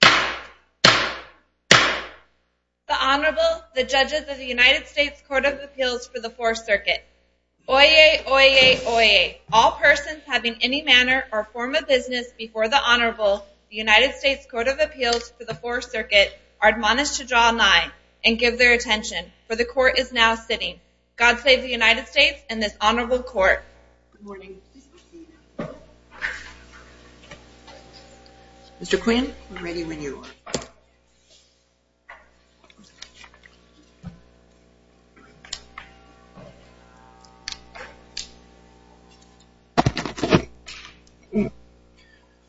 The Honorable, the Judges of the United States Court of Appeals for the Fourth Circuit. Oyez, oyez, oyez. All persons having any manner or form of business before the Honorable, the United States Court of Appeals for the Fourth Circuit, are admonished to draw an eye and give their attention, for the Court is now sitting. God save the United States and this Honorable Court. Mr. Quinn, we're ready when you are.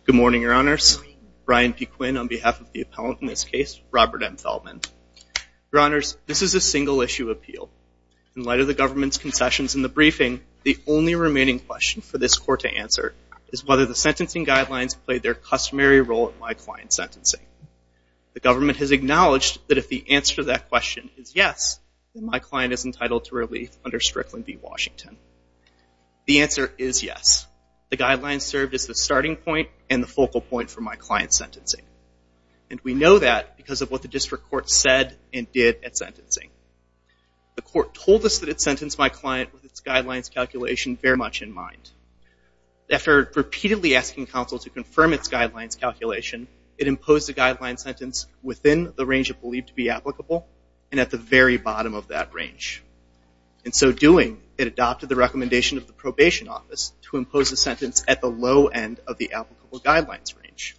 Good morning, Your Honors. Brian P. Quinn on behalf of the appellant in this case, Robert M. Feldman. Your Honors, this is a single issue appeal. In light of the government's concessions in the briefing, the only remaining question for this Court to answer is whether the sentencing guidelines played their customary role in my client's sentencing. The government has acknowledged that if the answer to that question is yes, then my client is entitled to relief under Strickland v. Washington. The answer is yes. The guidelines served as the starting point and the focal point for my client's sentencing. The Court told us that it sentenced my client with its guidelines calculation very much in mind. After repeatedly asking counsel to confirm its guidelines calculation, it imposed a guideline sentence within the range it believed to be applicable and at the very bottom of that range. In so doing, it adopted the recommendation of the probation office to impose a sentence at the low end of the applicable guidelines range.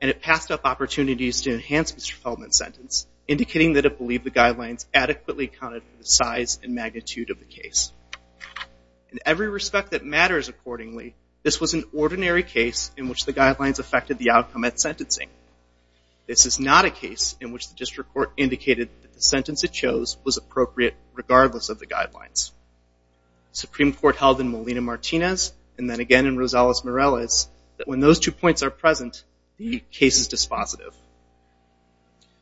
And it passed up opportunities to enhance Mr. Feldman's sentence, indicating that it believed the guidelines adequately accounted for the size and magnitude of the case. In every respect that matters accordingly, this was an ordinary case in which the guidelines affected the outcome at sentencing. This is not a case in which the district court indicated that the sentence it chose was appropriate regardless of the guidelines. The Supreme Court held in Molina-Martinez and then again in Rosales-Morales that when those two points are present, the case is dispositive.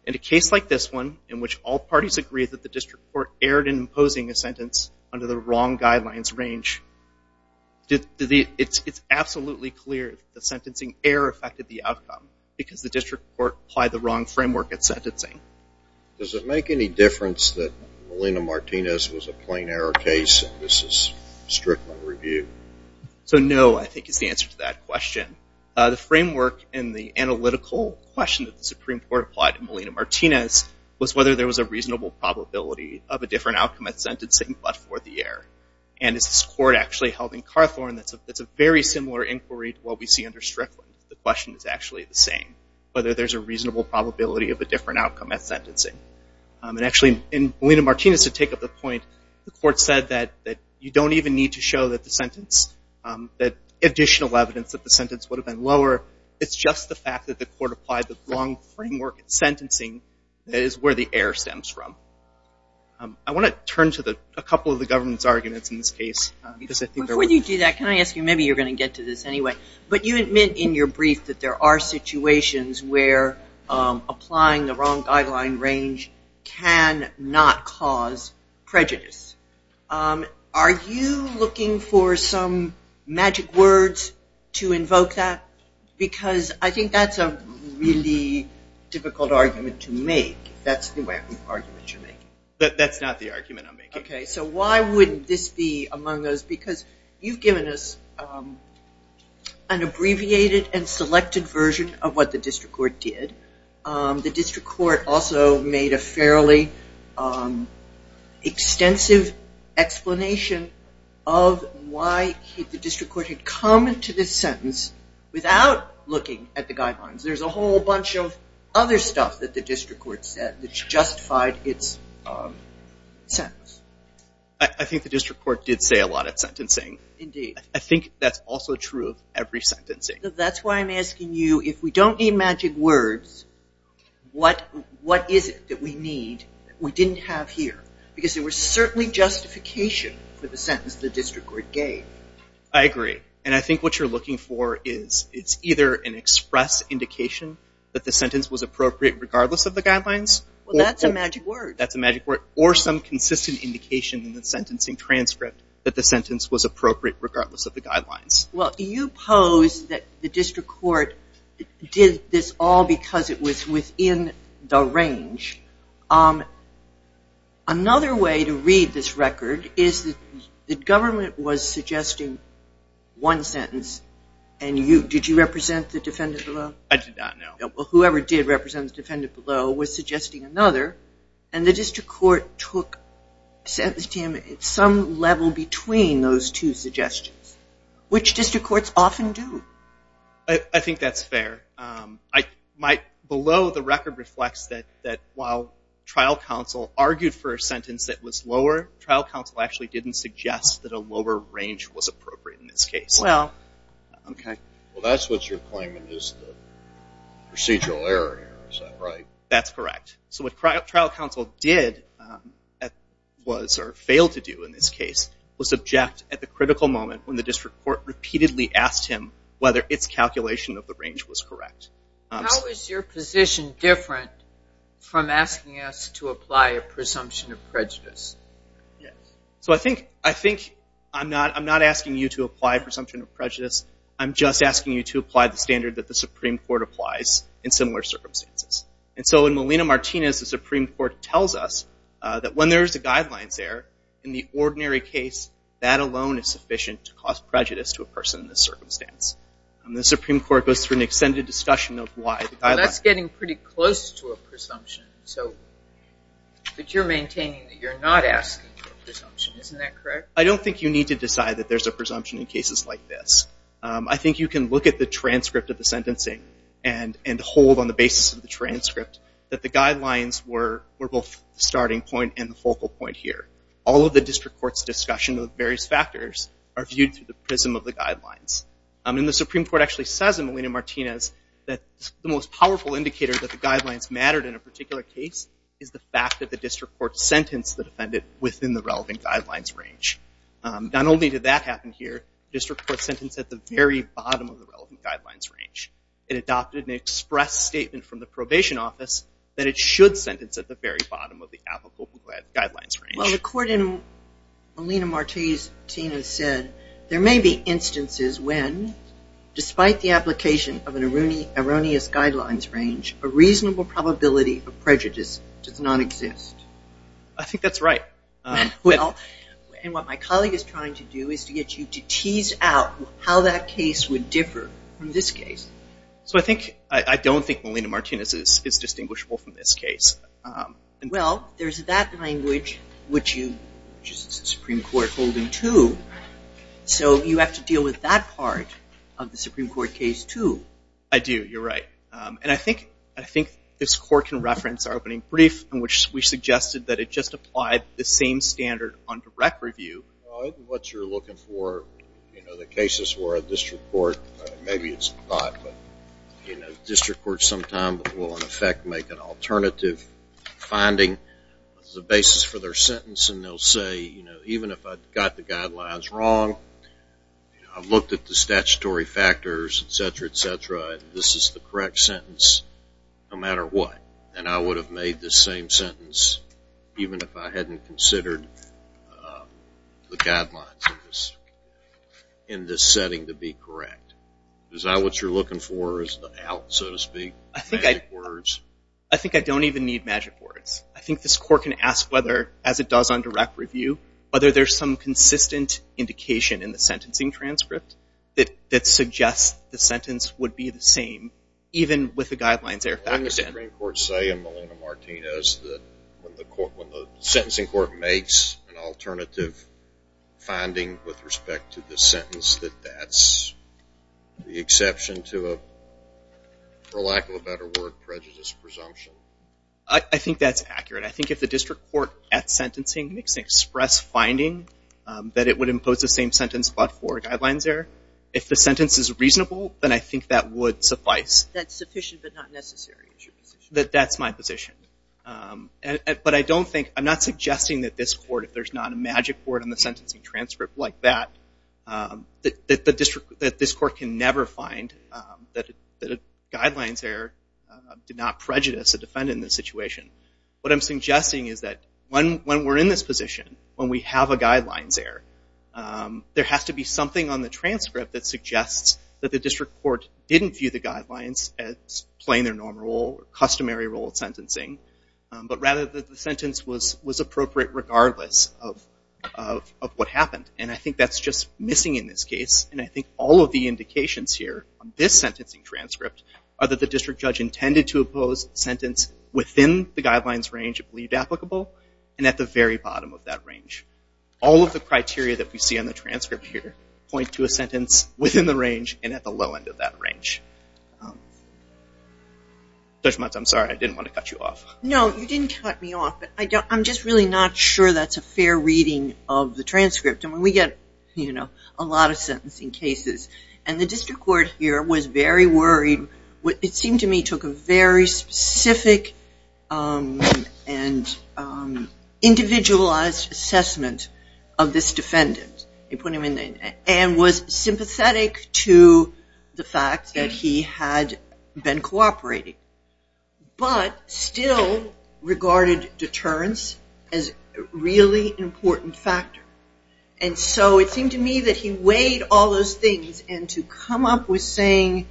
In a case like this one, in which all parties agreed that the district court erred in imposing a sentence under the wrong guidelines range, it's absolutely clear that the sentencing error affected the outcome because the district court applied the wrong framework at sentencing. Does it make any difference that Molina-Martinez was a plain error case and this is strictly review? So no, I think, is the answer to that question. The framework in the analytical question that the Supreme Court applied in Molina-Martinez was whether there was a reasonable probability of a different outcome at sentencing but for the error. And this court actually held in Carthorn, it's a very similar inquiry to what we see under Strickland. The question is actually the same, whether there's a reasonable probability of a different outcome at sentencing. And actually, in Molina-Martinez, to take up the point, the court said that you don't even need to show that the sentence, that additional evidence that the sentence would have been lower. It's just the fact that the court applied the wrong framework at sentencing that is where the error stems from. I want to turn to a couple of the government's arguments in this case because I think there were... Before you do that, can I ask you, maybe you're going to get to this anyway, but you admit in your brief that there are situations where applying the wrong guideline range can not cause prejudice. Are you looking for some magic words to invoke that? Because I think that's a really difficult argument to make, if that's the argument you're making. That's not the argument I'm making. Okay, so why wouldn't this be among those? Because you've given us an abbreviated and selected version of what the district court did. The district court also made a fairly extensive explanation of why the district court had come to this sentence without looking at the guidelines. There's a whole bunch of other stuff that the district court said that justified its sentence. I think the district court did say a lot at sentencing. Indeed. I think that's also true of every sentencing. That's why I'm asking you, if we don't need magic words, what is it that we need that we didn't have here? Because there was certainly justification for the sentence the district court gave. I agree. And I think what you're looking for is, it's either an express indication that the sentence was appropriate regardless of the guidelines... Well, that's a magic word. That's a magic word. Or some consistent indication in the sentencing transcript that the sentence was appropriate regardless of the guidelines. Well, you pose that the district court did this all because it was within the range. Another way to read this record is that the government was suggesting one sentence, and did you represent the defendant below? I did not, no. Well, whoever did represent the defendant below was suggesting another, and the district court took sentencing at some level between those two suggestions, which district courts often do. I think that's fair. Below the record reflects that while trial counsel argued for a sentence that was lower, trial counsel actually didn't suggest that a lower range was appropriate in this case. Well, okay. Well, that's what you're claiming is the procedural error here, is that right? That's correct. So what trial counsel did was, or failed to do in this case, was object at the critical moment when the district court repeatedly asked him whether its calculation of the range was correct. How is your position different from asking us to apply a presumption of prejudice? So I think I'm not asking you to apply a presumption of prejudice. I'm just asking you to apply the standard that the Supreme Court applies in similar circumstances. And so, in Molina-Martinez, the Supreme Court tells us that when there's a guidelines error in the ordinary case, that alone is sufficient to cause prejudice to a person in this circumstance. The Supreme Court goes through an extended discussion of why the guidelines... That's getting pretty close to a presumption, but you're maintaining that you're not asking for a presumption. Isn't that correct? I don't think you need to decide that there's a presumption in cases like this. I think you can look at the transcript of the sentencing and hold on the basis of the transcript that the guidelines were both the starting point and the focal point here. All of the district court's discussion of various factors are viewed through the prism of the guidelines. And the Supreme Court actually says in Molina-Martinez that the most powerful indicator that the guidelines mattered in a particular case is the fact that the district court sentenced the defendant within the relevant guidelines range. Not only did that happen here, the district court sentenced at the very bottom of the relevant guidelines range. It adopted an express statement from the probation office that it should sentence at the very bottom of the applicable guidelines range. Well, according to Molina-Martinez, Tina said, there may be instances when, despite the application of an erroneous guidelines range, a reasonable probability of prejudice does not exist. I think that's right. Well, and what my colleague is trying to do is to get you to tease out how that case would differ from this case. So I think, I don't think Molina-Martinez is distinguishable from this case. Well, there's that language which the Supreme Court told him to. So you have to deal with that part of the Supreme Court case too. I do, you're right. And I think this court can reference our opening brief in which we suggested that it just applied the same standard on direct review. Well, I think what you're looking for, you know, the cases where a district court, maybe it's not, but you know, district courts sometimes will in effect make an alternative finding as a basis for their sentence and they'll say, you know, even if I got the guidelines wrong, you know, I've looked at the statutory factors, et cetera, et cetera, and this is the correct sentence no matter what. And I would have made this same sentence even if I hadn't considered the guidelines in this setting to be correct. Is that what you're looking for, is the out, so to speak, magic words? I think I don't even need magic words. I think this court can ask whether, as it does on direct review, whether there's some consistent indication in the sentencing transcript that suggests the sentence would be the same even with the guidelines there. Wouldn't the Supreme Court say in Molina-Martinez that when the sentencing court makes an alternative finding with respect to the sentence that that's the exception to a, for lack of a better word, prejudice presumption? I think that's accurate. I think if the district court at sentencing makes an express finding that it would impose the same sentence but for a guidelines error, if the sentence is reasonable, then I think that would suffice. That's sufficient but not necessary is your position? That's my position. But I don't think, I'm not suggesting that this court, if there's not a magic word in the sentencing transcript like that, that this court can never find that a guidelines error did not prejudice a defendant in this situation. What I'm suggesting is that when we're in this position, when we have a guidelines error, there has to be something on the transcript that suggests that the district court didn't view the guidelines as playing their normal or customary role at sentencing, but rather that the sentence was appropriate regardless of what happened. And I think that's just missing in this case, and I think all of the indications here on this sentencing transcript are that the district judge intended to impose a sentence within the guidelines range it believed applicable and at the very bottom of that range. All of the criteria that we see on the transcript here point to a sentence within the range and at the low end of that range. Judge Muntz, I'm sorry, I didn't want to cut you off. No, you didn't cut me off, but I'm just really not sure that's a fair reading of the transcript. We get a lot of sentencing cases, and the district court here was very worried, it seemed to me, took a very specific and individualized assessment of this defendant and was sympathetic to the fact that he had been cooperating, but still regarded deterrence as a really important factor. And so it seemed to me that he weighed all those things and to come up with saying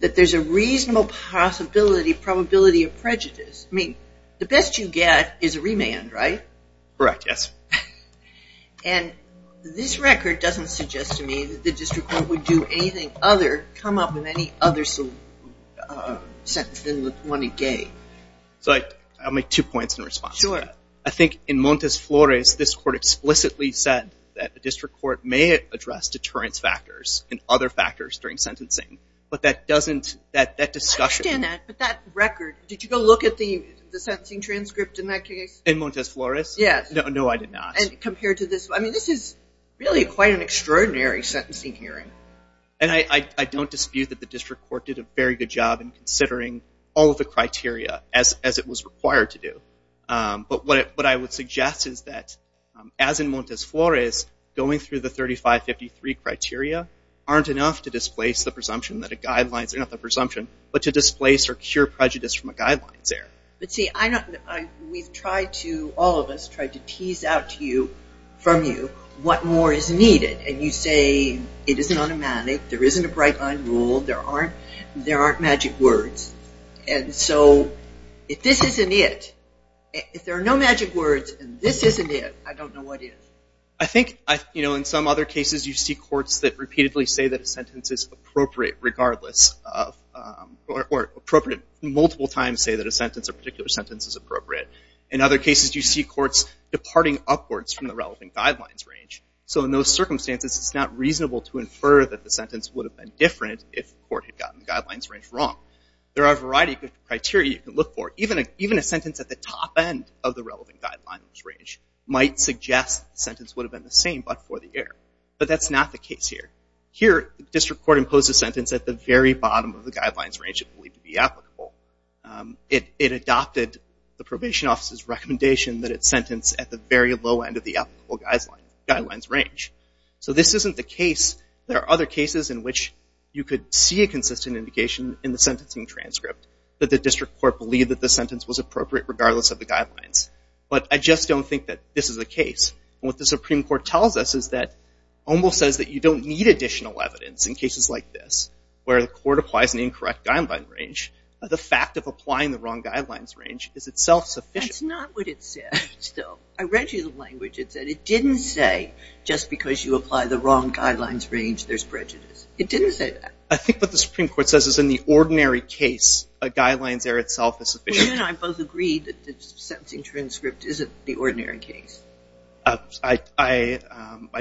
that there's a reasonable possibility, probability of prejudice, I mean, the best you get is a remand, right? Correct, yes. And this record doesn't suggest to me that the district court would do anything other, come up with any other sentence than the one it gave. So I'll make two points in response to that. I think in Montes Flores, this court explicitly said that the district court may address deterrence factors and other factors during sentencing, but that doesn't, that discussion- I understand that, but that record, did you go look at the sentencing transcript in that case? In Montes Flores? Yes. No, I did not. And compared to this, I mean, this is really quite an extraordinary sentencing hearing. And I don't dispute that the district court did a very good job in considering all of the criteria as it was required to do. But what I would suggest is that, as in Montes Flores, going through the 3553 criteria aren't enough to displace the presumption that a guidelines, not the presumption, but to displace or cure prejudice from a guidelines error. But see, I don't, we've tried to, all of us tried to tease out to you, from you, what more is needed. And you say, it isn't automatic, there isn't a bright line rule, there aren't, there aren't magic words. And so, if this isn't it, if there are no magic words, and this isn't it, I don't know what is. I think, you know, in some other cases you see courts that repeatedly say that a sentence is appropriate, regardless of, or appropriate, multiple times say that a sentence, a particular sentence is appropriate. In other cases, you see courts departing upwards from the relevant guidelines range. So in those circumstances, it's not reasonable to infer that the sentence would have been different if the court had gotten the guidelines range wrong. There are a variety of criteria you can look for. Even a sentence at the top end of the relevant guidelines range might suggest the sentence would have been the same, but for the error. But that's not the case here. Here, the district court imposed a sentence at the very bottom of the guidelines range it believed to be applicable. It adopted the probation office's recommendation that it sentence at the very low end of the applicable guidelines range. So this isn't the case. There are other cases in which you could see a consistent indication in the sentencing transcript that the district court believed that the sentence was appropriate, regardless of the guidelines. But I just don't think that this is the case. What the Supreme Court tells us is that OMBEL says that you don't need additional evidence in cases like this, where the court applies an incorrect guideline range. The fact of applying the wrong guidelines range is itself sufficient. That's not what it said, still. I read you the language. It said it didn't say just because you apply the wrong guidelines range, there's prejudice. It didn't say that. I think what the Supreme Court says is in the ordinary case, a guidelines error itself is sufficient. Well, you and I both agreed that the sentencing transcript isn't the ordinary case. I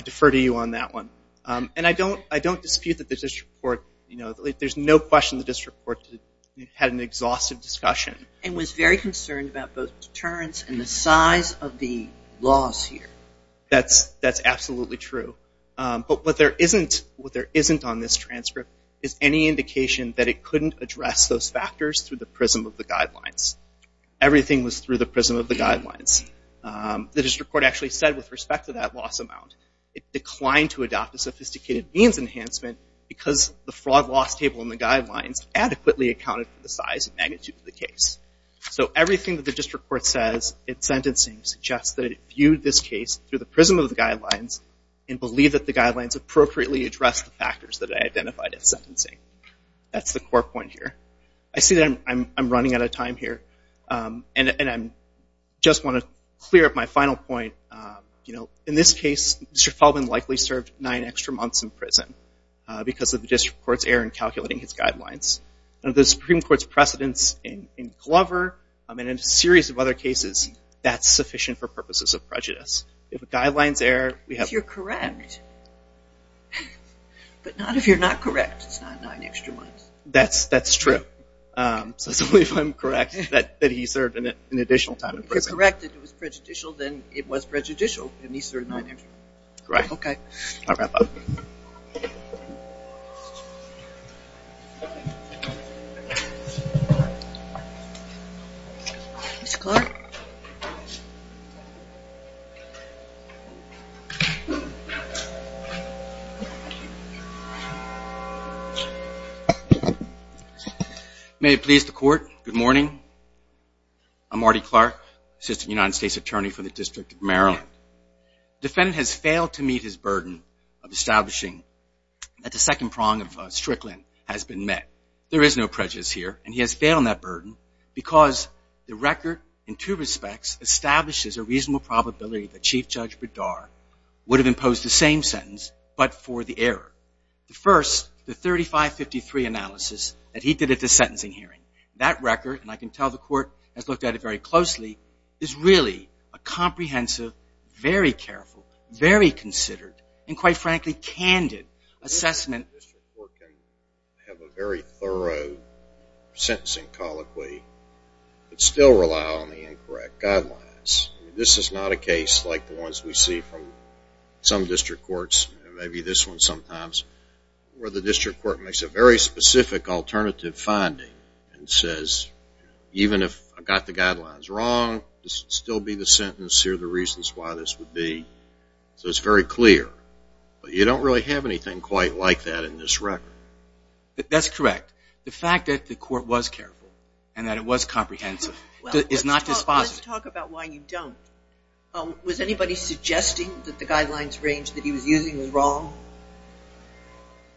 defer to you on that one. And I don't dispute that the district court, you know, there's no question the district court had an exhaustive discussion. And was very concerned about both deterrence and the size of the laws here. That's absolutely true. But what there isn't on this transcript is any indication that it couldn't address those factors through the prism of the guidelines. Everything was through the prism of the guidelines. The district court actually said with respect to that loss amount, it declined to adopt a sophisticated means enhancement because the fraud loss table in the guidelines adequately accounted for the size and magnitude of the case. So everything that the district court says in sentencing suggests that it viewed this case through the prism of the guidelines and believed that the guidelines appropriately addressed the factors that it identified in sentencing. That's the core point here. I see that I'm running out of time here. And I just want to clear up my final point. In this case, Mr. Feldman likely served nine extra months in prison because of the district court's error in calculating his guidelines. The Supreme Court's precedence in Glover and in a series of other cases, that's sufficient for purposes of prejudice. If the guidelines error, we have- If you're correct, but not if you're not correct, it's not nine extra months. That's true. So it's only if I'm correct that he served an additional time in prison. If you're correct that it was prejudicial, then it was prejudicial and he served nine extra months. Correct. Okay. I'll wrap up. Mr. Clark? May it please the court. Good morning. I'm Marty Clark, Assistant United States Attorney for the District of Maryland. Defendant has failed to meet his burden of establishing that the second prong of Strickland has been met. There is no prejudice here and he has failed on that burden because the record in two respects establishes a reasonable probability that Chief Judge Bedard would have imposed the same sentence but for the error. The first, the 3553 analysis that he did at the sentencing hearing, that record, and I can tell the court has looked at it very closely, is really a comprehensive, very careful, very considered, and quite frankly, candid assessment. This report can have a very thorough sentencing colloquy but still rely on the incorrect guidelines. This is not a case like the ones we see from some district courts. Maybe this one sometimes, where the district court makes a very specific alternative finding and says, even if I got the guidelines wrong, this would still be the sentence, here are the reasons why this would be. So it's very clear. But you don't really have anything quite like that in this record. That's correct. The fact that the court was careful and that it was comprehensive is not dispositive. Let's talk about why you don't. Was anybody suggesting that the guidelines range that he was using was wrong?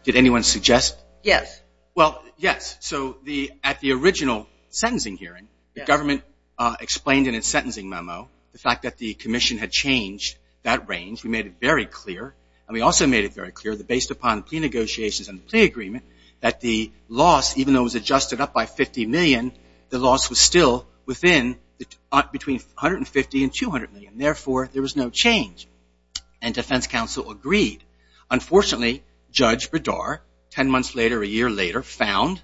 Did anyone suggest? Yes. Well, yes. So at the original sentencing hearing, the government explained in its sentencing memo the fact that the commission had changed that range. We made it very clear, and we also made it very clear, that based upon the plea negotiations and the plea agreement, that the loss, even though it was adjusted up by 50 million, the there was no change. And defense counsel agreed. Unfortunately, Judge Bedar, 10 months later, a year later, found,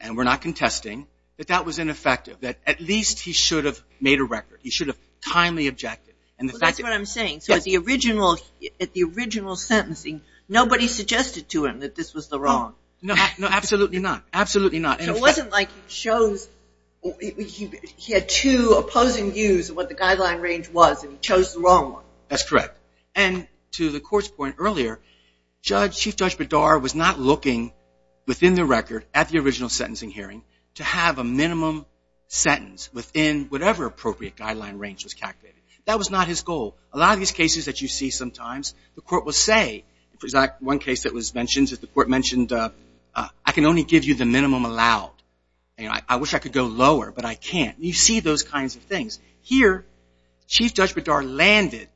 and we're not contesting, that that was ineffective. That at least he should have made a record. He should have kindly objected. And the fact that- Well, that's what I'm saying. So at the original sentencing, nobody suggested to him that this was the wrong- No, absolutely not. Absolutely not. So it wasn't like he chose, he had two opposing views of what the guideline range was, and he chose the wrong one. That's correct. And to the court's point earlier, Chief Judge Bedar was not looking within the record at the original sentencing hearing to have a minimum sentence within whatever appropriate guideline range was calculated. That was not his goal. A lot of these cases that you see sometimes, the court will say, for example, one case that was mentioned, that the court mentioned, I can only give you the minimum allowed. I wish I could go lower, but I can't. You see those kinds of things. Here, Chief Judge Bedar landed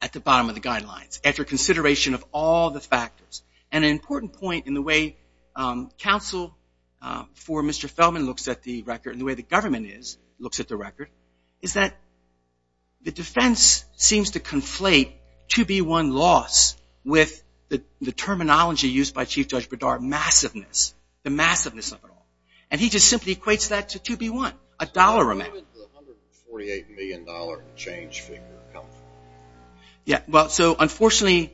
at the bottom of the guidelines, after consideration of all the factors. And an important point in the way counsel for Mr. Feldman looks at the record, and the way the government looks at the record, is that the defense seems to conflate 2B1 loss with the terminology used by Chief Judge Bedar, massiveness, the massiveness of it all. And he just simply equates that to 2B1, a dollar amount. So how would the $148 million change figure come from? Yeah, well, so unfortunately,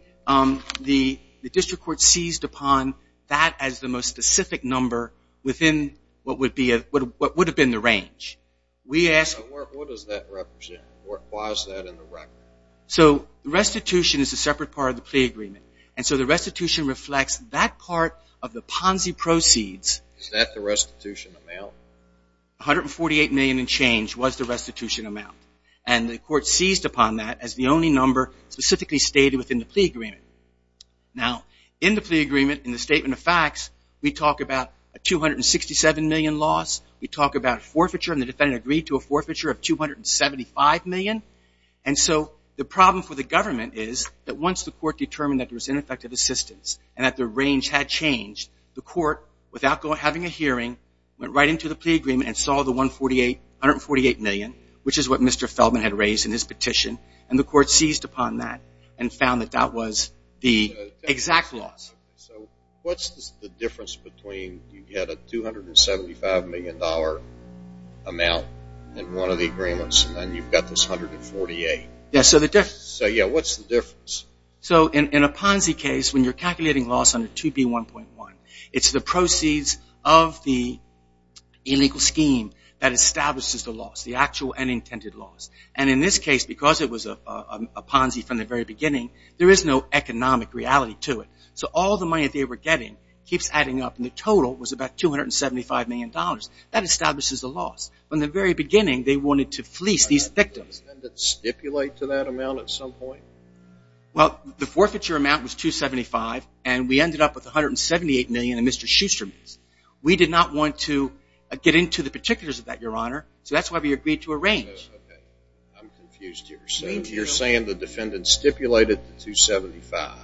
the district court seized upon that as the most specific number within what would have been the range. We asked... What does that represent? Why is that in the record? So restitution is a separate part of the plea agreement. And so the restitution reflects that part of the Ponzi proceeds. Is that the restitution amount? $148 million and change was the restitution amount. And the court seized upon that as the only number specifically stated within the plea agreement. Now, in the plea agreement, in the statement of facts, we talk about a $267 million loss. We talk about forfeiture, and the defendant agreed to a forfeiture of $275 million. And so the problem for the government is that once the court determined that there was ineffective assistance and that the range had changed, the court, without having a hearing, went right into the plea agreement and saw the $148 million, which is what Mr. Feldman had raised in his petition, and the court seized upon that and found that that was the exact loss. So what's the difference between you get a $275 million amount in one of the agreements and then you've got this $148 million? Yes, so the difference. So, yeah, what's the difference? So in a Ponzi case, when you're calculating loss under 2B1.1, it's the proceeds of the illegal scheme that establishes the loss, the actual and intended loss. And in this case, because it was a Ponzi from the very beginning, there is no economic reality to it. So all the money that they were getting keeps adding up, and the total was about $275 million. That establishes the loss. From the very beginning, they wanted to fleece these victims. Did the defendant stipulate to that amount at some point? Well, the forfeiture amount was $275 million, and we ended up with $178 million in Mr. Schuster means. We did not want to get into the particulars of that, Your Honor, so that's why we agreed to a range. Okay, I'm confused here. You're saying the defendant stipulated the $275 million.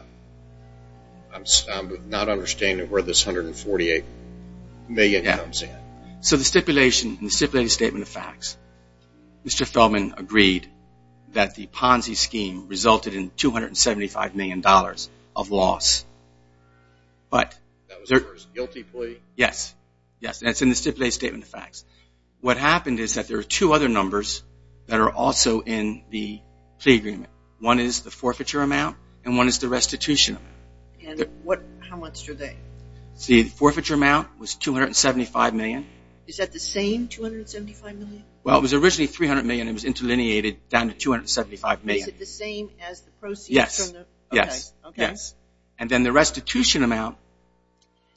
I'm not understanding where this $148 million comes in. So the stipulation, in the stipulated statement of facts, Mr. Feldman agreed that the Ponzi scheme resulted in $275 million of loss. But that's in the stipulated statement of facts. What happened is that there are two other numbers that are also in the plea agreement. One is the forfeiture amount, and one is the restitution amount. And how much are they? See, the forfeiture amount was $275 million. Is that the same $275 million? Well, it was originally $300 million. It was interlineated down to $275 million. Is it the same as the proceeds from the... Yes. Yes. Okay. Yes. And then the restitution amount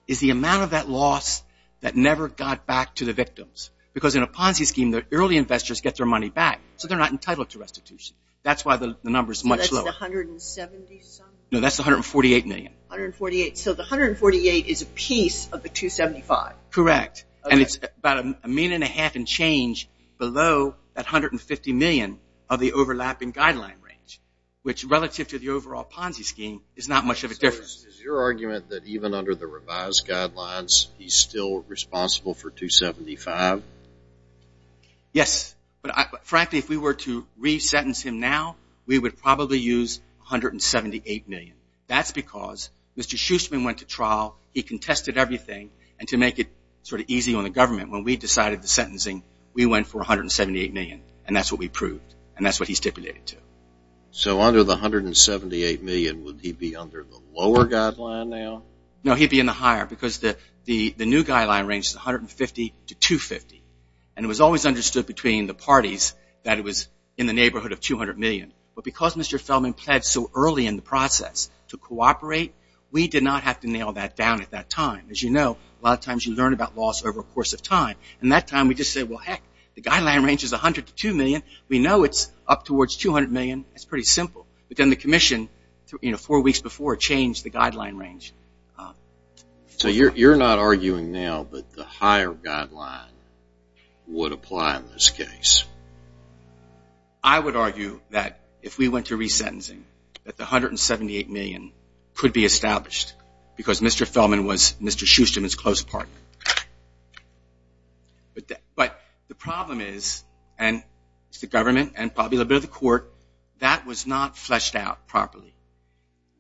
is the amount of that loss that never got back to the victims. Because in a Ponzi scheme, the early investors get their money back, so they're not entitled to restitution. That's why the number is much lower. So that's $170 some... No, that's $148 million. $148. So the $148 is a piece of the $275. Correct. And it's about a minute and a half and change below that $150 million of the overlapping guideline range, which relative to the overall Ponzi scheme is not much of a difference. So is your argument that even under the revised guidelines, he's still responsible for $275? Yes. But frankly, if we were to re-sentence him now, we would probably use $178 million. That's because Mr. Schusterman went to trial, he contested everything, and to make it sort of easy on the government, when we decided the sentencing, we went for $178 million. And that's what we proved. And that's what he stipulated too. So under the $178 million, would he be under the lower guideline now? No, he'd be in the higher because the new guideline range is $150 to $250. And it was always understood between the parties that it was in the neighborhood of $200 million. But because Mr. Feldman pled so early in the process to cooperate, we did not have to nail that down at that time. As you know, a lot of times you learn about laws over a course of time. And that time we just said, well, heck, the guideline range is $100 to $2 million. We know it's up towards $200 million. It's pretty simple. But then the commission, you know, four weeks before changed the guideline range. So you're not arguing now that the higher guideline would apply in this case? I would argue that if we went to resentencing, that the $178 million could be established because Mr. Feldman was Mr. Schusterman's close partner. But the problem is, and it's the government and probably a little bit of the court, that was not fleshed out properly.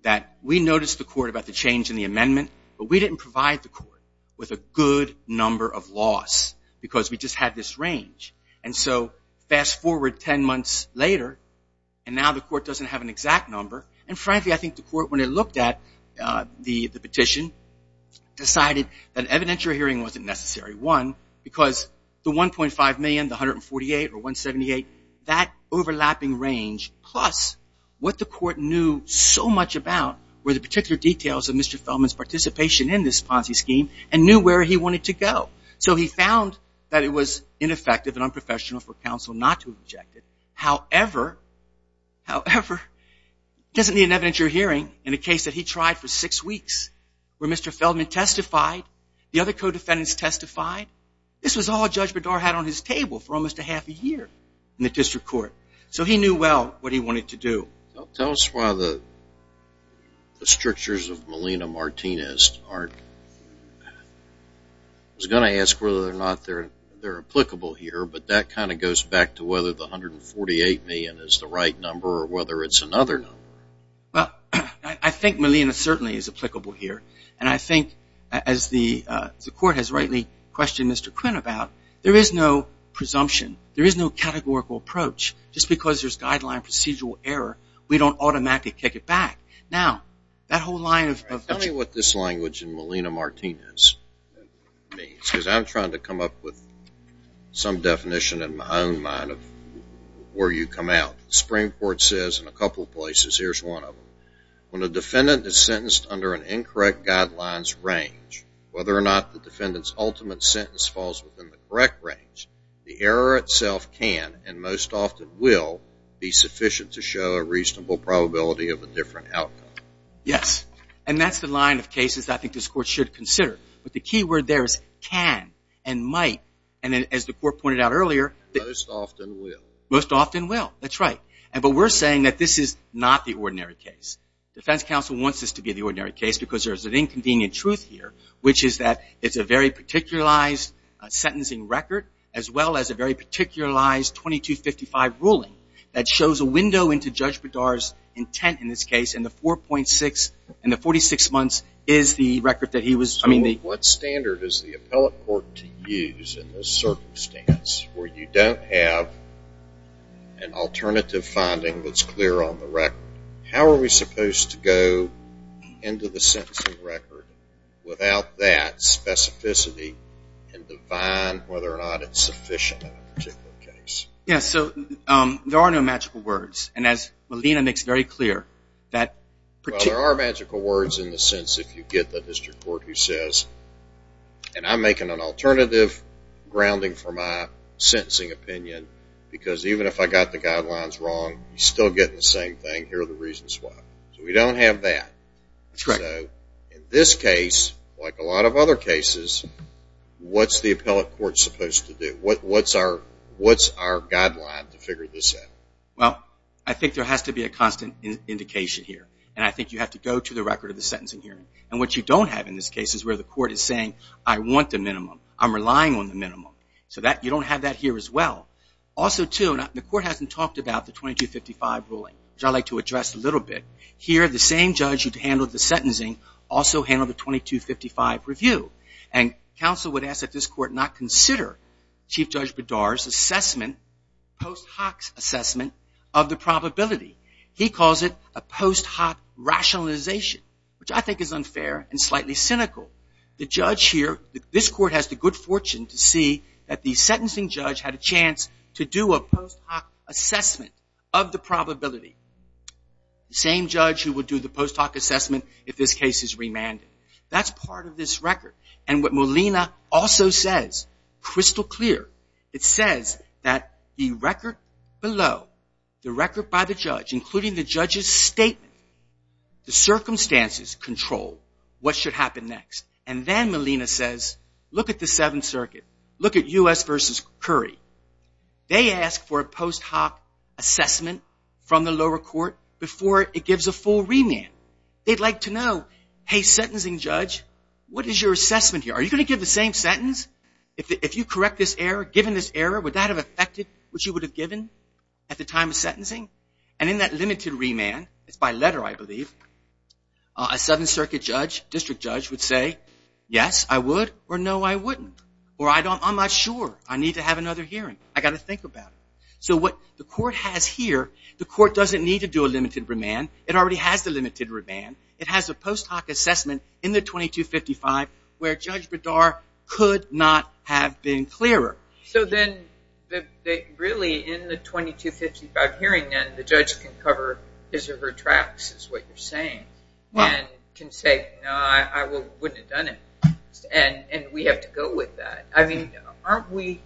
That we noticed the court about the change in the amendment, but we didn't provide the court with a good number of laws because we just had this range. And so fast forward 10 months later, and now the court doesn't have an exact number. And frankly, I think the court when it looked at the petition decided that evidentiary hearing wasn't necessary. One, because the $1.5 million, the $148 or $178, that overlapping range, plus what the court knew so much about were the particular details of Mr. Feldman's participation in this Ponzi scheme and knew where he wanted to go. So he found that it was ineffective and unprofessional for counsel not to object. However, however, doesn't the inevitable hearing in a case that he tried for six weeks where Mr. Feldman testified, the other co-defendants testified, this was all Judge Bedard had on his table for almost a half a year in the district court. So he knew well what he wanted to do. Tell us why the strictures of Melina Martinez aren't... I was going to ask whether or not they're applicable here, but that kind of goes back to whether the $148 million is the right number or whether it's another number. Well, I think Melina certainly is applicable here. And I think as the court has rightly questioned Mr. Quinn about, there is no presumption. There is no categorical approach. Just because there's guideline procedural error, we don't automatically kick it back. Now, that whole line of... Tell me what this language in Melina Martinez means, because I'm trying to come up with some definition in my own mind of where you come out. The Supreme Court says in a couple of places, here's one of them, when a defendant is sentenced under an incorrect guidelines range, whether or not the defendant's ultimate sentence falls within the correct range, the error itself can, and most often will, be sufficient to show a reasonable probability of a different outcome. Yes. And that's the line of cases I think this court should consider. But the key word there is can and might. And as the court pointed out earlier... Most often will. Most often will. That's right. But we're saying that this is not the ordinary case. Defense counsel wants this to be the ordinary case because there's an inconvenient truth here, which is that it's a very particularized sentencing record, as well as a very particularized 2255 ruling that shows a window into Judge Bedard's intent in this case, and the 46 months is the record that he was... So what standard is the appellate court to use in this circumstance where you don't have an alternative finding that's clear on the record? How are we supposed to go into the sentencing record without that specificity and define whether or not it's sufficient in a particular case? Yes. So there are no magical words. And as Melina makes very clear, that... Well, there are magical words in the sense if you get the district court who says, and I'm making an alternative grounding for my sentencing opinion because even if I got the guidelines wrong, you still get the same thing. Here are the reasons why. So we don't have that. That's correct. So in this case, like a lot of other cases, what's the appellate court supposed to do? What's our guideline to figure this out? Well, I think there has to be a constant indication here. And I think you have to go to the record of the sentencing hearing. And what you don't have in this case is where the court is saying, I want the minimum. I'm relying on the minimum. So you don't have that here as well. Also, too, the court hasn't talked about the 2255 ruling, which I'd like to address a little bit. Here, the same judge who handled the sentencing also handled the 2255 review. And counsel would ask that this court not consider Chief Judge Bedard's assessment, post hoc assessment, of the probability. He calls it a post hoc rationalization, which I think is unfair and slightly cynical. The judge here, this court has the good fortune to see that the sentencing judge had a chance to do a post hoc assessment of the probability. The same judge who would do the post hoc assessment if this case is remanded. That's part of this record. And what Molina also says, crystal clear, it says that the record below, the record by the judge, including the judge's statement, the circumstances control what should happen next. And then Molina says, look at the Seventh Circuit. Look at U.S. v. Curry. They ask for a post hoc assessment from the lower court before it gives a full remand. They'd like to know, hey, sentencing judge, what is your assessment here? Are you going to give the same sentence? If you correct this error, given this error, would that have affected what you would have given at the time of sentencing? And in that limited remand, it's by letter, I believe, a Seventh Circuit judge, district judge, would say, yes, I would, or no, I wouldn't. Or I'm not sure, I need to have another hearing. I've got to think about it. So what the court has here, the court doesn't need to do a limited remand. It already has the limited remand. It has a post hoc assessment in the 2255 where Judge Bedard could not have been clearer. So then, really, in the 2255 hearing, then the judge can cover his or her tracks, is what you're saying, and can say, no, I wouldn't have done it. And we have to go with that. I mean, aren't we...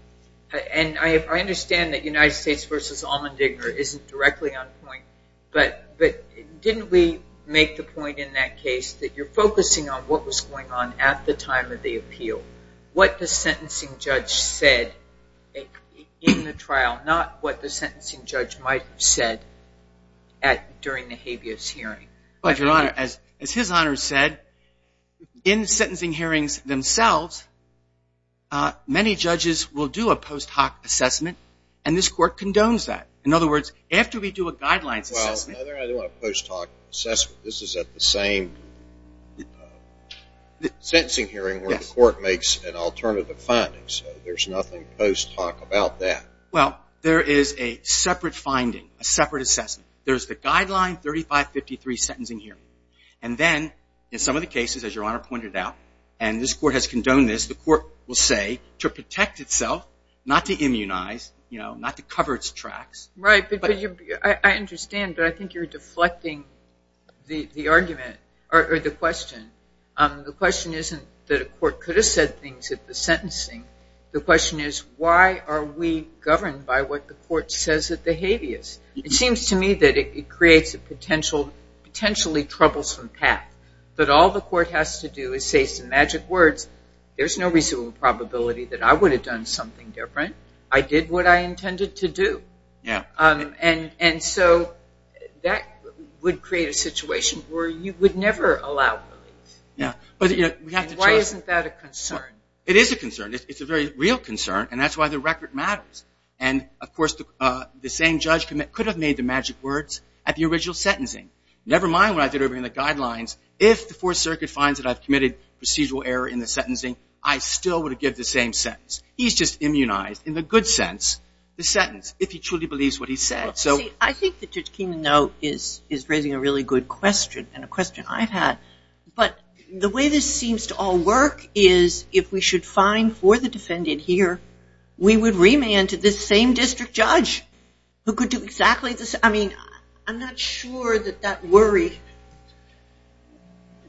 And I understand that United States v. Allmendinger isn't directly on point, but didn't we make the point in that case that you're focusing on what was going on at the time of the appeal, what the sentencing judge said in the trial, not what the sentencing judge might have said during the habeas hearing? Your Honor, as his Honor said, in sentencing hearings themselves, many judges will do a post hoc assessment and this Court condones that. In other words, after we do a guidelines assessment... Well, I don't want a post hoc assessment. This is at the same sentencing hearing where the Court makes an alternative finding, so there's nothing post hoc about that. Well, there is a separate finding, a separate assessment. There's the guideline 3553 sentencing hearing. And then, in some of the cases, as Your Honor pointed out, and this Court has condoned this, the Court will say to protect itself, not to immunize, not to cover its tracks. Right, but I understand, but I think you're deflecting the argument, or the question. The question isn't that a court could have said things at the sentencing. The question is, why are we governed by what the Court says at the habeas? It seems to me that it creates a potentially troublesome path. That all the Court has to do is say some magic words. There's no reasonable probability that I would have done something different. I did what I intended to do. And so, that would create a situation where you would never allow release. Why isn't that a concern? It is a concern. It's a very real concern, and that's why the record matters. And, of course, the same judge could have made the magic words at the original sentencing. Never mind what I did in the guidelines. If the Fourth Circuit finds that I've committed procedural error in the sentencing, I still would have given the same sentence. He's just immunized, in the good sense, the sentence, if he truly believes what he said. I think that Judge Keenan is raising a really good question, and a question I've had. But the way this seems to all work is if we should fine for the defendant here, we would remand to this same district judge who could do exactly the same... I mean, I'm not sure that that worry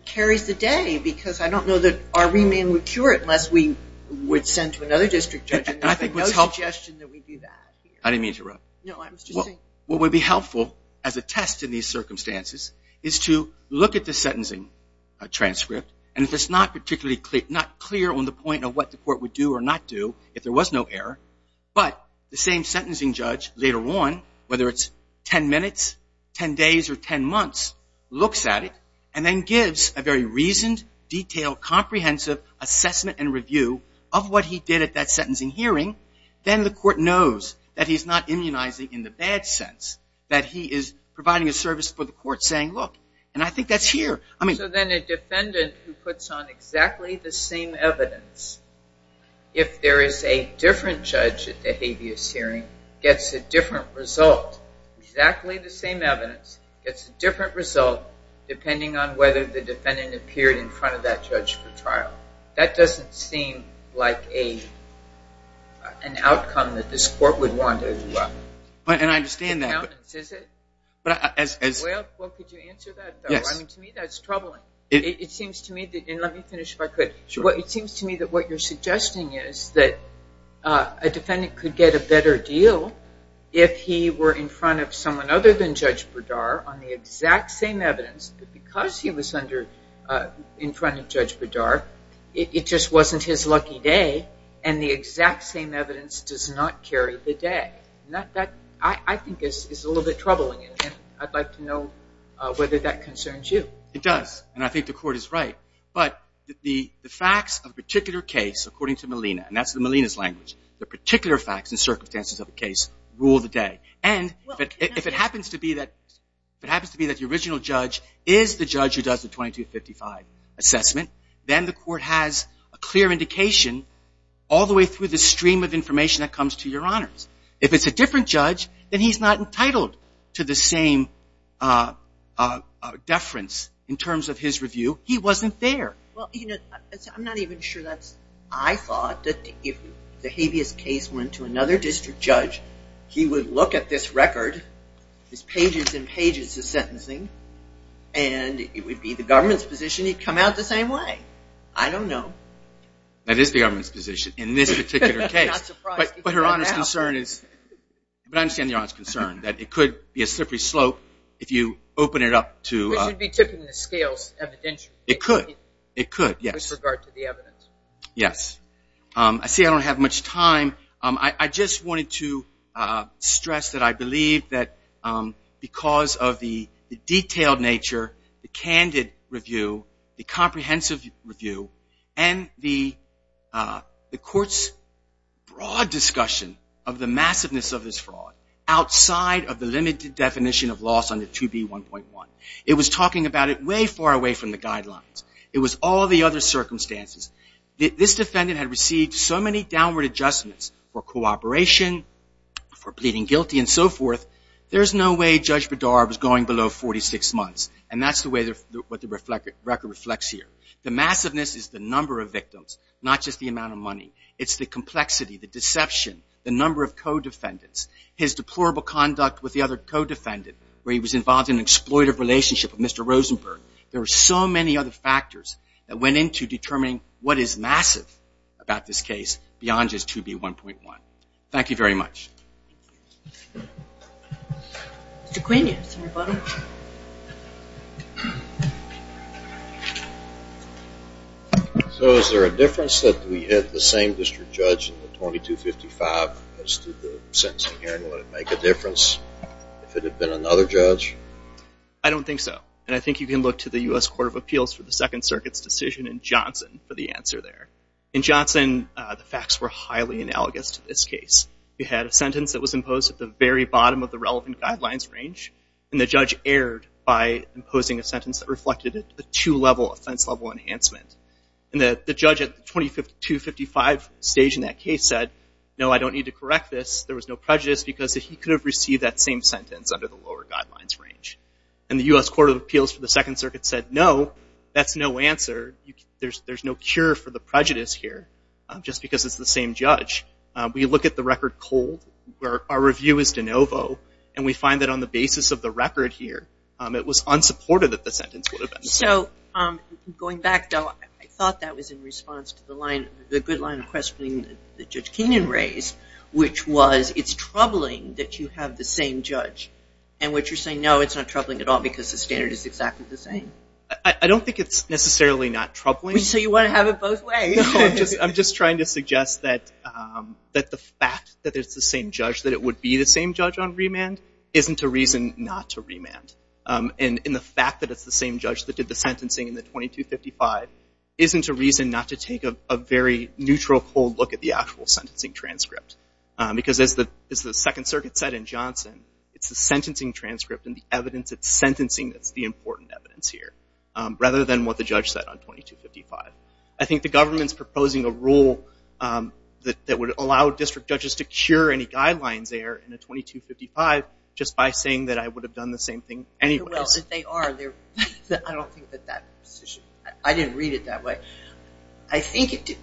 carries the day, because I don't know that our remand would cure it unless we would send to another district judge. I didn't mean to interrupt. What would be helpful as a test in these circumstances is to look at the sentencing transcript, and if it's not particularly clear on the point of what the court would do or not do, if there was no error, but the same sentencing judge later on, whether it's 10 minutes, 10 days, or 10 months, looks at it, and then gives a very reasoned, detailed, comprehensive assessment and review of what he did at that sentencing hearing, then the court knows that he's not immunizing in the bad sense. That he is providing a service for the court, saying, look, and I think that's here. So then a defendant who puts on exactly the same evidence, if there is a different judge at the habeas hearing, gets a different result. Exactly the same evidence gets a different result, depending on whether the defendant appeared in front of that judge for trial. That doesn't seem like a an outcome that this court would want. And I understand that. Well, could you answer that, though? To me, that's troubling. Let me finish if I could. It seems to me that what you're suggesting is that a defendant could get a better deal if he were in front of someone other than Judge Berdar on the exact same evidence, but because he was in front of Judge Berdar, it just wasn't his lucky day, and the exact same evidence does not carry the day. I think that's a little bit troubling. I'd like to know whether that concerns you. It does, and I think the court is right. But the facts of a particular case, according to Molina, and that's the Molina's language, the particular facts and circumstances of a case rule the day. And if it happens to be that the original judge is the judge who does the 2255 assessment, then the court has a clear indication all the way through the stream of information that comes to Your Honors. If it's a different judge, then he's not entitled to the same deference in terms of his review. He wasn't there. I'm not even sure I thought that if the habeas case went to another district judge, he would look at this record, his pages and pages of sentencing, and it would be the government's position he'd come out the same way. I don't know. That is the government's position in this particular case. But Your Honor's concern is but I understand Your Honor's concern that it could be a slippery slope if you open it up to it could with regard to the evidence. Yes. I see I don't have much time. I just wanted to stress that I believe that because of the detailed nature, the candid review, the comprehensive review and the court's broad discussion of the massiveness of this fraud outside of the limited definition of loss on the 2B1.1. It was talking about it way far away from the guidelines. It was all the other circumstances. This defendant had received so many downward adjustments for cooperation, for pleading guilty and so forth, there's no way Judge Bedard was going below 46 months, and that's the way what the record reflects here. The massiveness is the number of victims, not just the amount of money. It's the complexity, the deception, the number of co-defendants. His deplorable conduct with the other co-defendant, where he was involved in an exploitive relationship with Mr. Rosenberg. There were so many other factors that went into determining what is massive about this case beyond just 2B1.1. Thank you very much. Mr. Quinion, Senator Butler. So, is there a difference that we had the same district judge in the 2255 as to the sentencing here? Would it make a difference if it had been another judge? I don't think so, and I think you can look to the U.S. Court of Appeals for the Second Circuit's decision in Johnson for the answer there. In Johnson, the facts were highly analogous to this case. We had a sentence that was imposed at the very bottom of the relevant guidelines range, and the judge erred by imposing a sentence that reflected a two-level offense-level enhancement. And the judge at the 2255 stage in that case said, no, I don't need to correct this. There was no prejudice because he could have received that same sentence under the lower guidelines range. And the U.S. Court of Appeals for the Second Circuit said, no, that's no answer. There's no cure for the same judge. We look at the record cold, our review is de novo, and we find that on the basis of the record here, it was unsupported that the sentence would have been the same. Going back, though, I thought that was in response to the line, the good line of questioning that Judge Keenan raised, which was, it's troubling that you have the same judge. And what you're saying, no, it's not troubling at all because the standard is exactly the same. I don't think it's necessarily not troubling. So you want to have it both ways? I'm just trying to suggest that the fact that it's the same judge on remand isn't a reason not to remand. And the fact that it's the same judge that did the sentencing in the 2255 isn't a reason not to take a very neutral, cold look at the actual sentencing transcript. Because as the Second Circuit said in Johnson, it's the sentencing transcript and the evidence it's sentencing that's the important evidence here, rather than what the judge said on 2255. I think the government is proposing a rule that would allow district judges to hear any guidelines there in a 2255 just by saying that I would have done the same thing anyway. I don't think that that I didn't read it that way. I think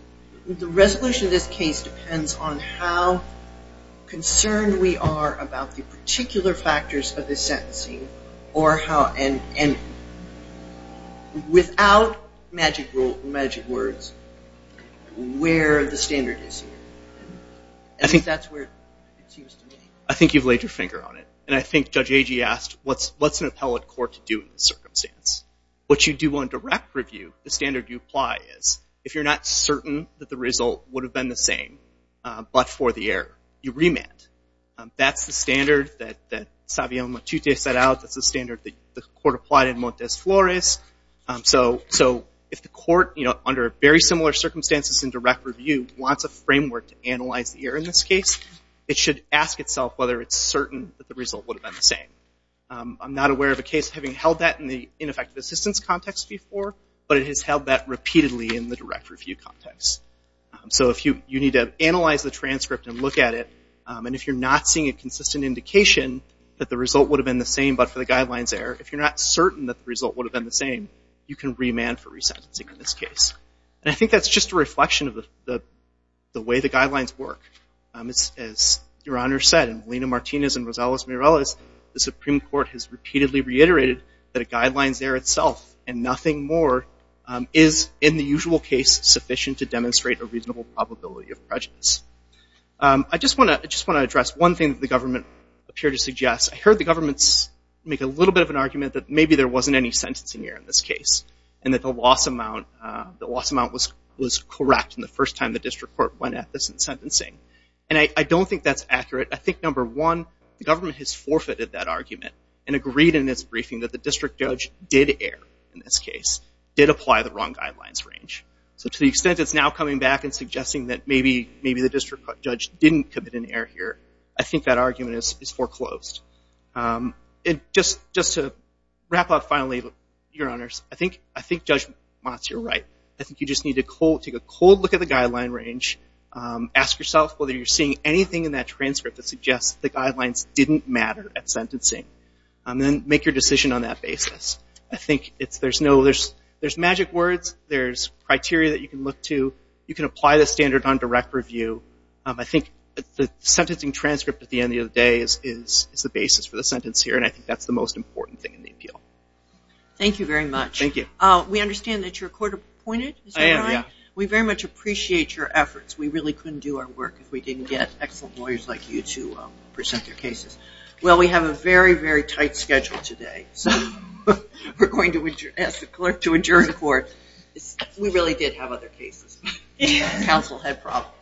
the resolution of this case depends on how concerned we are about the particular factors of this sentencing or how without magic words where the standard is and I think that's where it seems to me. I think you've laid your finger on it. And I think Judge Agee asked what's an appellate court to do in this circumstance? What you do on direct review, the standard you apply is if you're not certain that the result would have been the same, but for the error, you remand. That's the standard that Savio Matute set out. That's the standard the court applied in Montes Flores. So if the court under very similar circumstances in direct review wants a framework to analyze the error in this case, it should ask itself whether it's certain that the result would have been the same. I'm not aware of a case having held that in the ineffective assistance context before, but it has held that repeatedly in the direct review context. So you need to analyze the transcript and look at it, and if you're not seeing a consistent indication that the result would have been the same, but for the guidelines error, if you're not certain that the result would have been the same, you can remand for resentencing in this case. And I think that's just a reflection of the way the guidelines work. As Your Honor said, and Valina Martinez and Rosales Mireles, the Supreme Court has repeatedly reiterated that a guidelines error itself and nothing more is, in the usual case, sufficient to demonstrate a reasonable probability of prejudice. I just want to address one thing that the government appeared to suggest. I heard the government make a little bit of an argument that maybe there wasn't any sentencing error in this case and that the loss amount was correct in the first time the district court went at this in sentencing. And I don't think that's accurate. I think, number one, the government has forfeited that argument and agreed in its briefing that the district judge did err in this case, did apply the wrong guidelines range. So to the extent it's now coming back and suggesting that maybe the district judge didn't commit an error here, I think that argument is foreclosed. Just to wrap up finally, your honors, I think Judge Motz, you're right. I think you just need to take a cold look at the guideline range, ask yourself whether you're seeing anything in that transcript that suggests the guidelines didn't matter at sentencing, and then make your decision on that basis. I think there's magic words, there's criteria that you can look to, you can apply the standard on direct review. sentencing transcript at the end of the day is the basis for the sentence here, and I think that's the most important thing in the appeal. Thank you very much. We understand that you're court appointed. We very much appreciate your efforts. We really couldn't do our work if we didn't get excellent lawyers like you to present their cases. Well, we have a very, very tight schedule today, so we're going to ask the clerk to adjourn the court. We really did have other cases. Council had problems.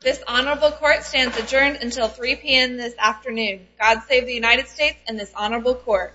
This honorable court stands adjourned until 3 p.m. this afternoon. God save the United States and this honorable court.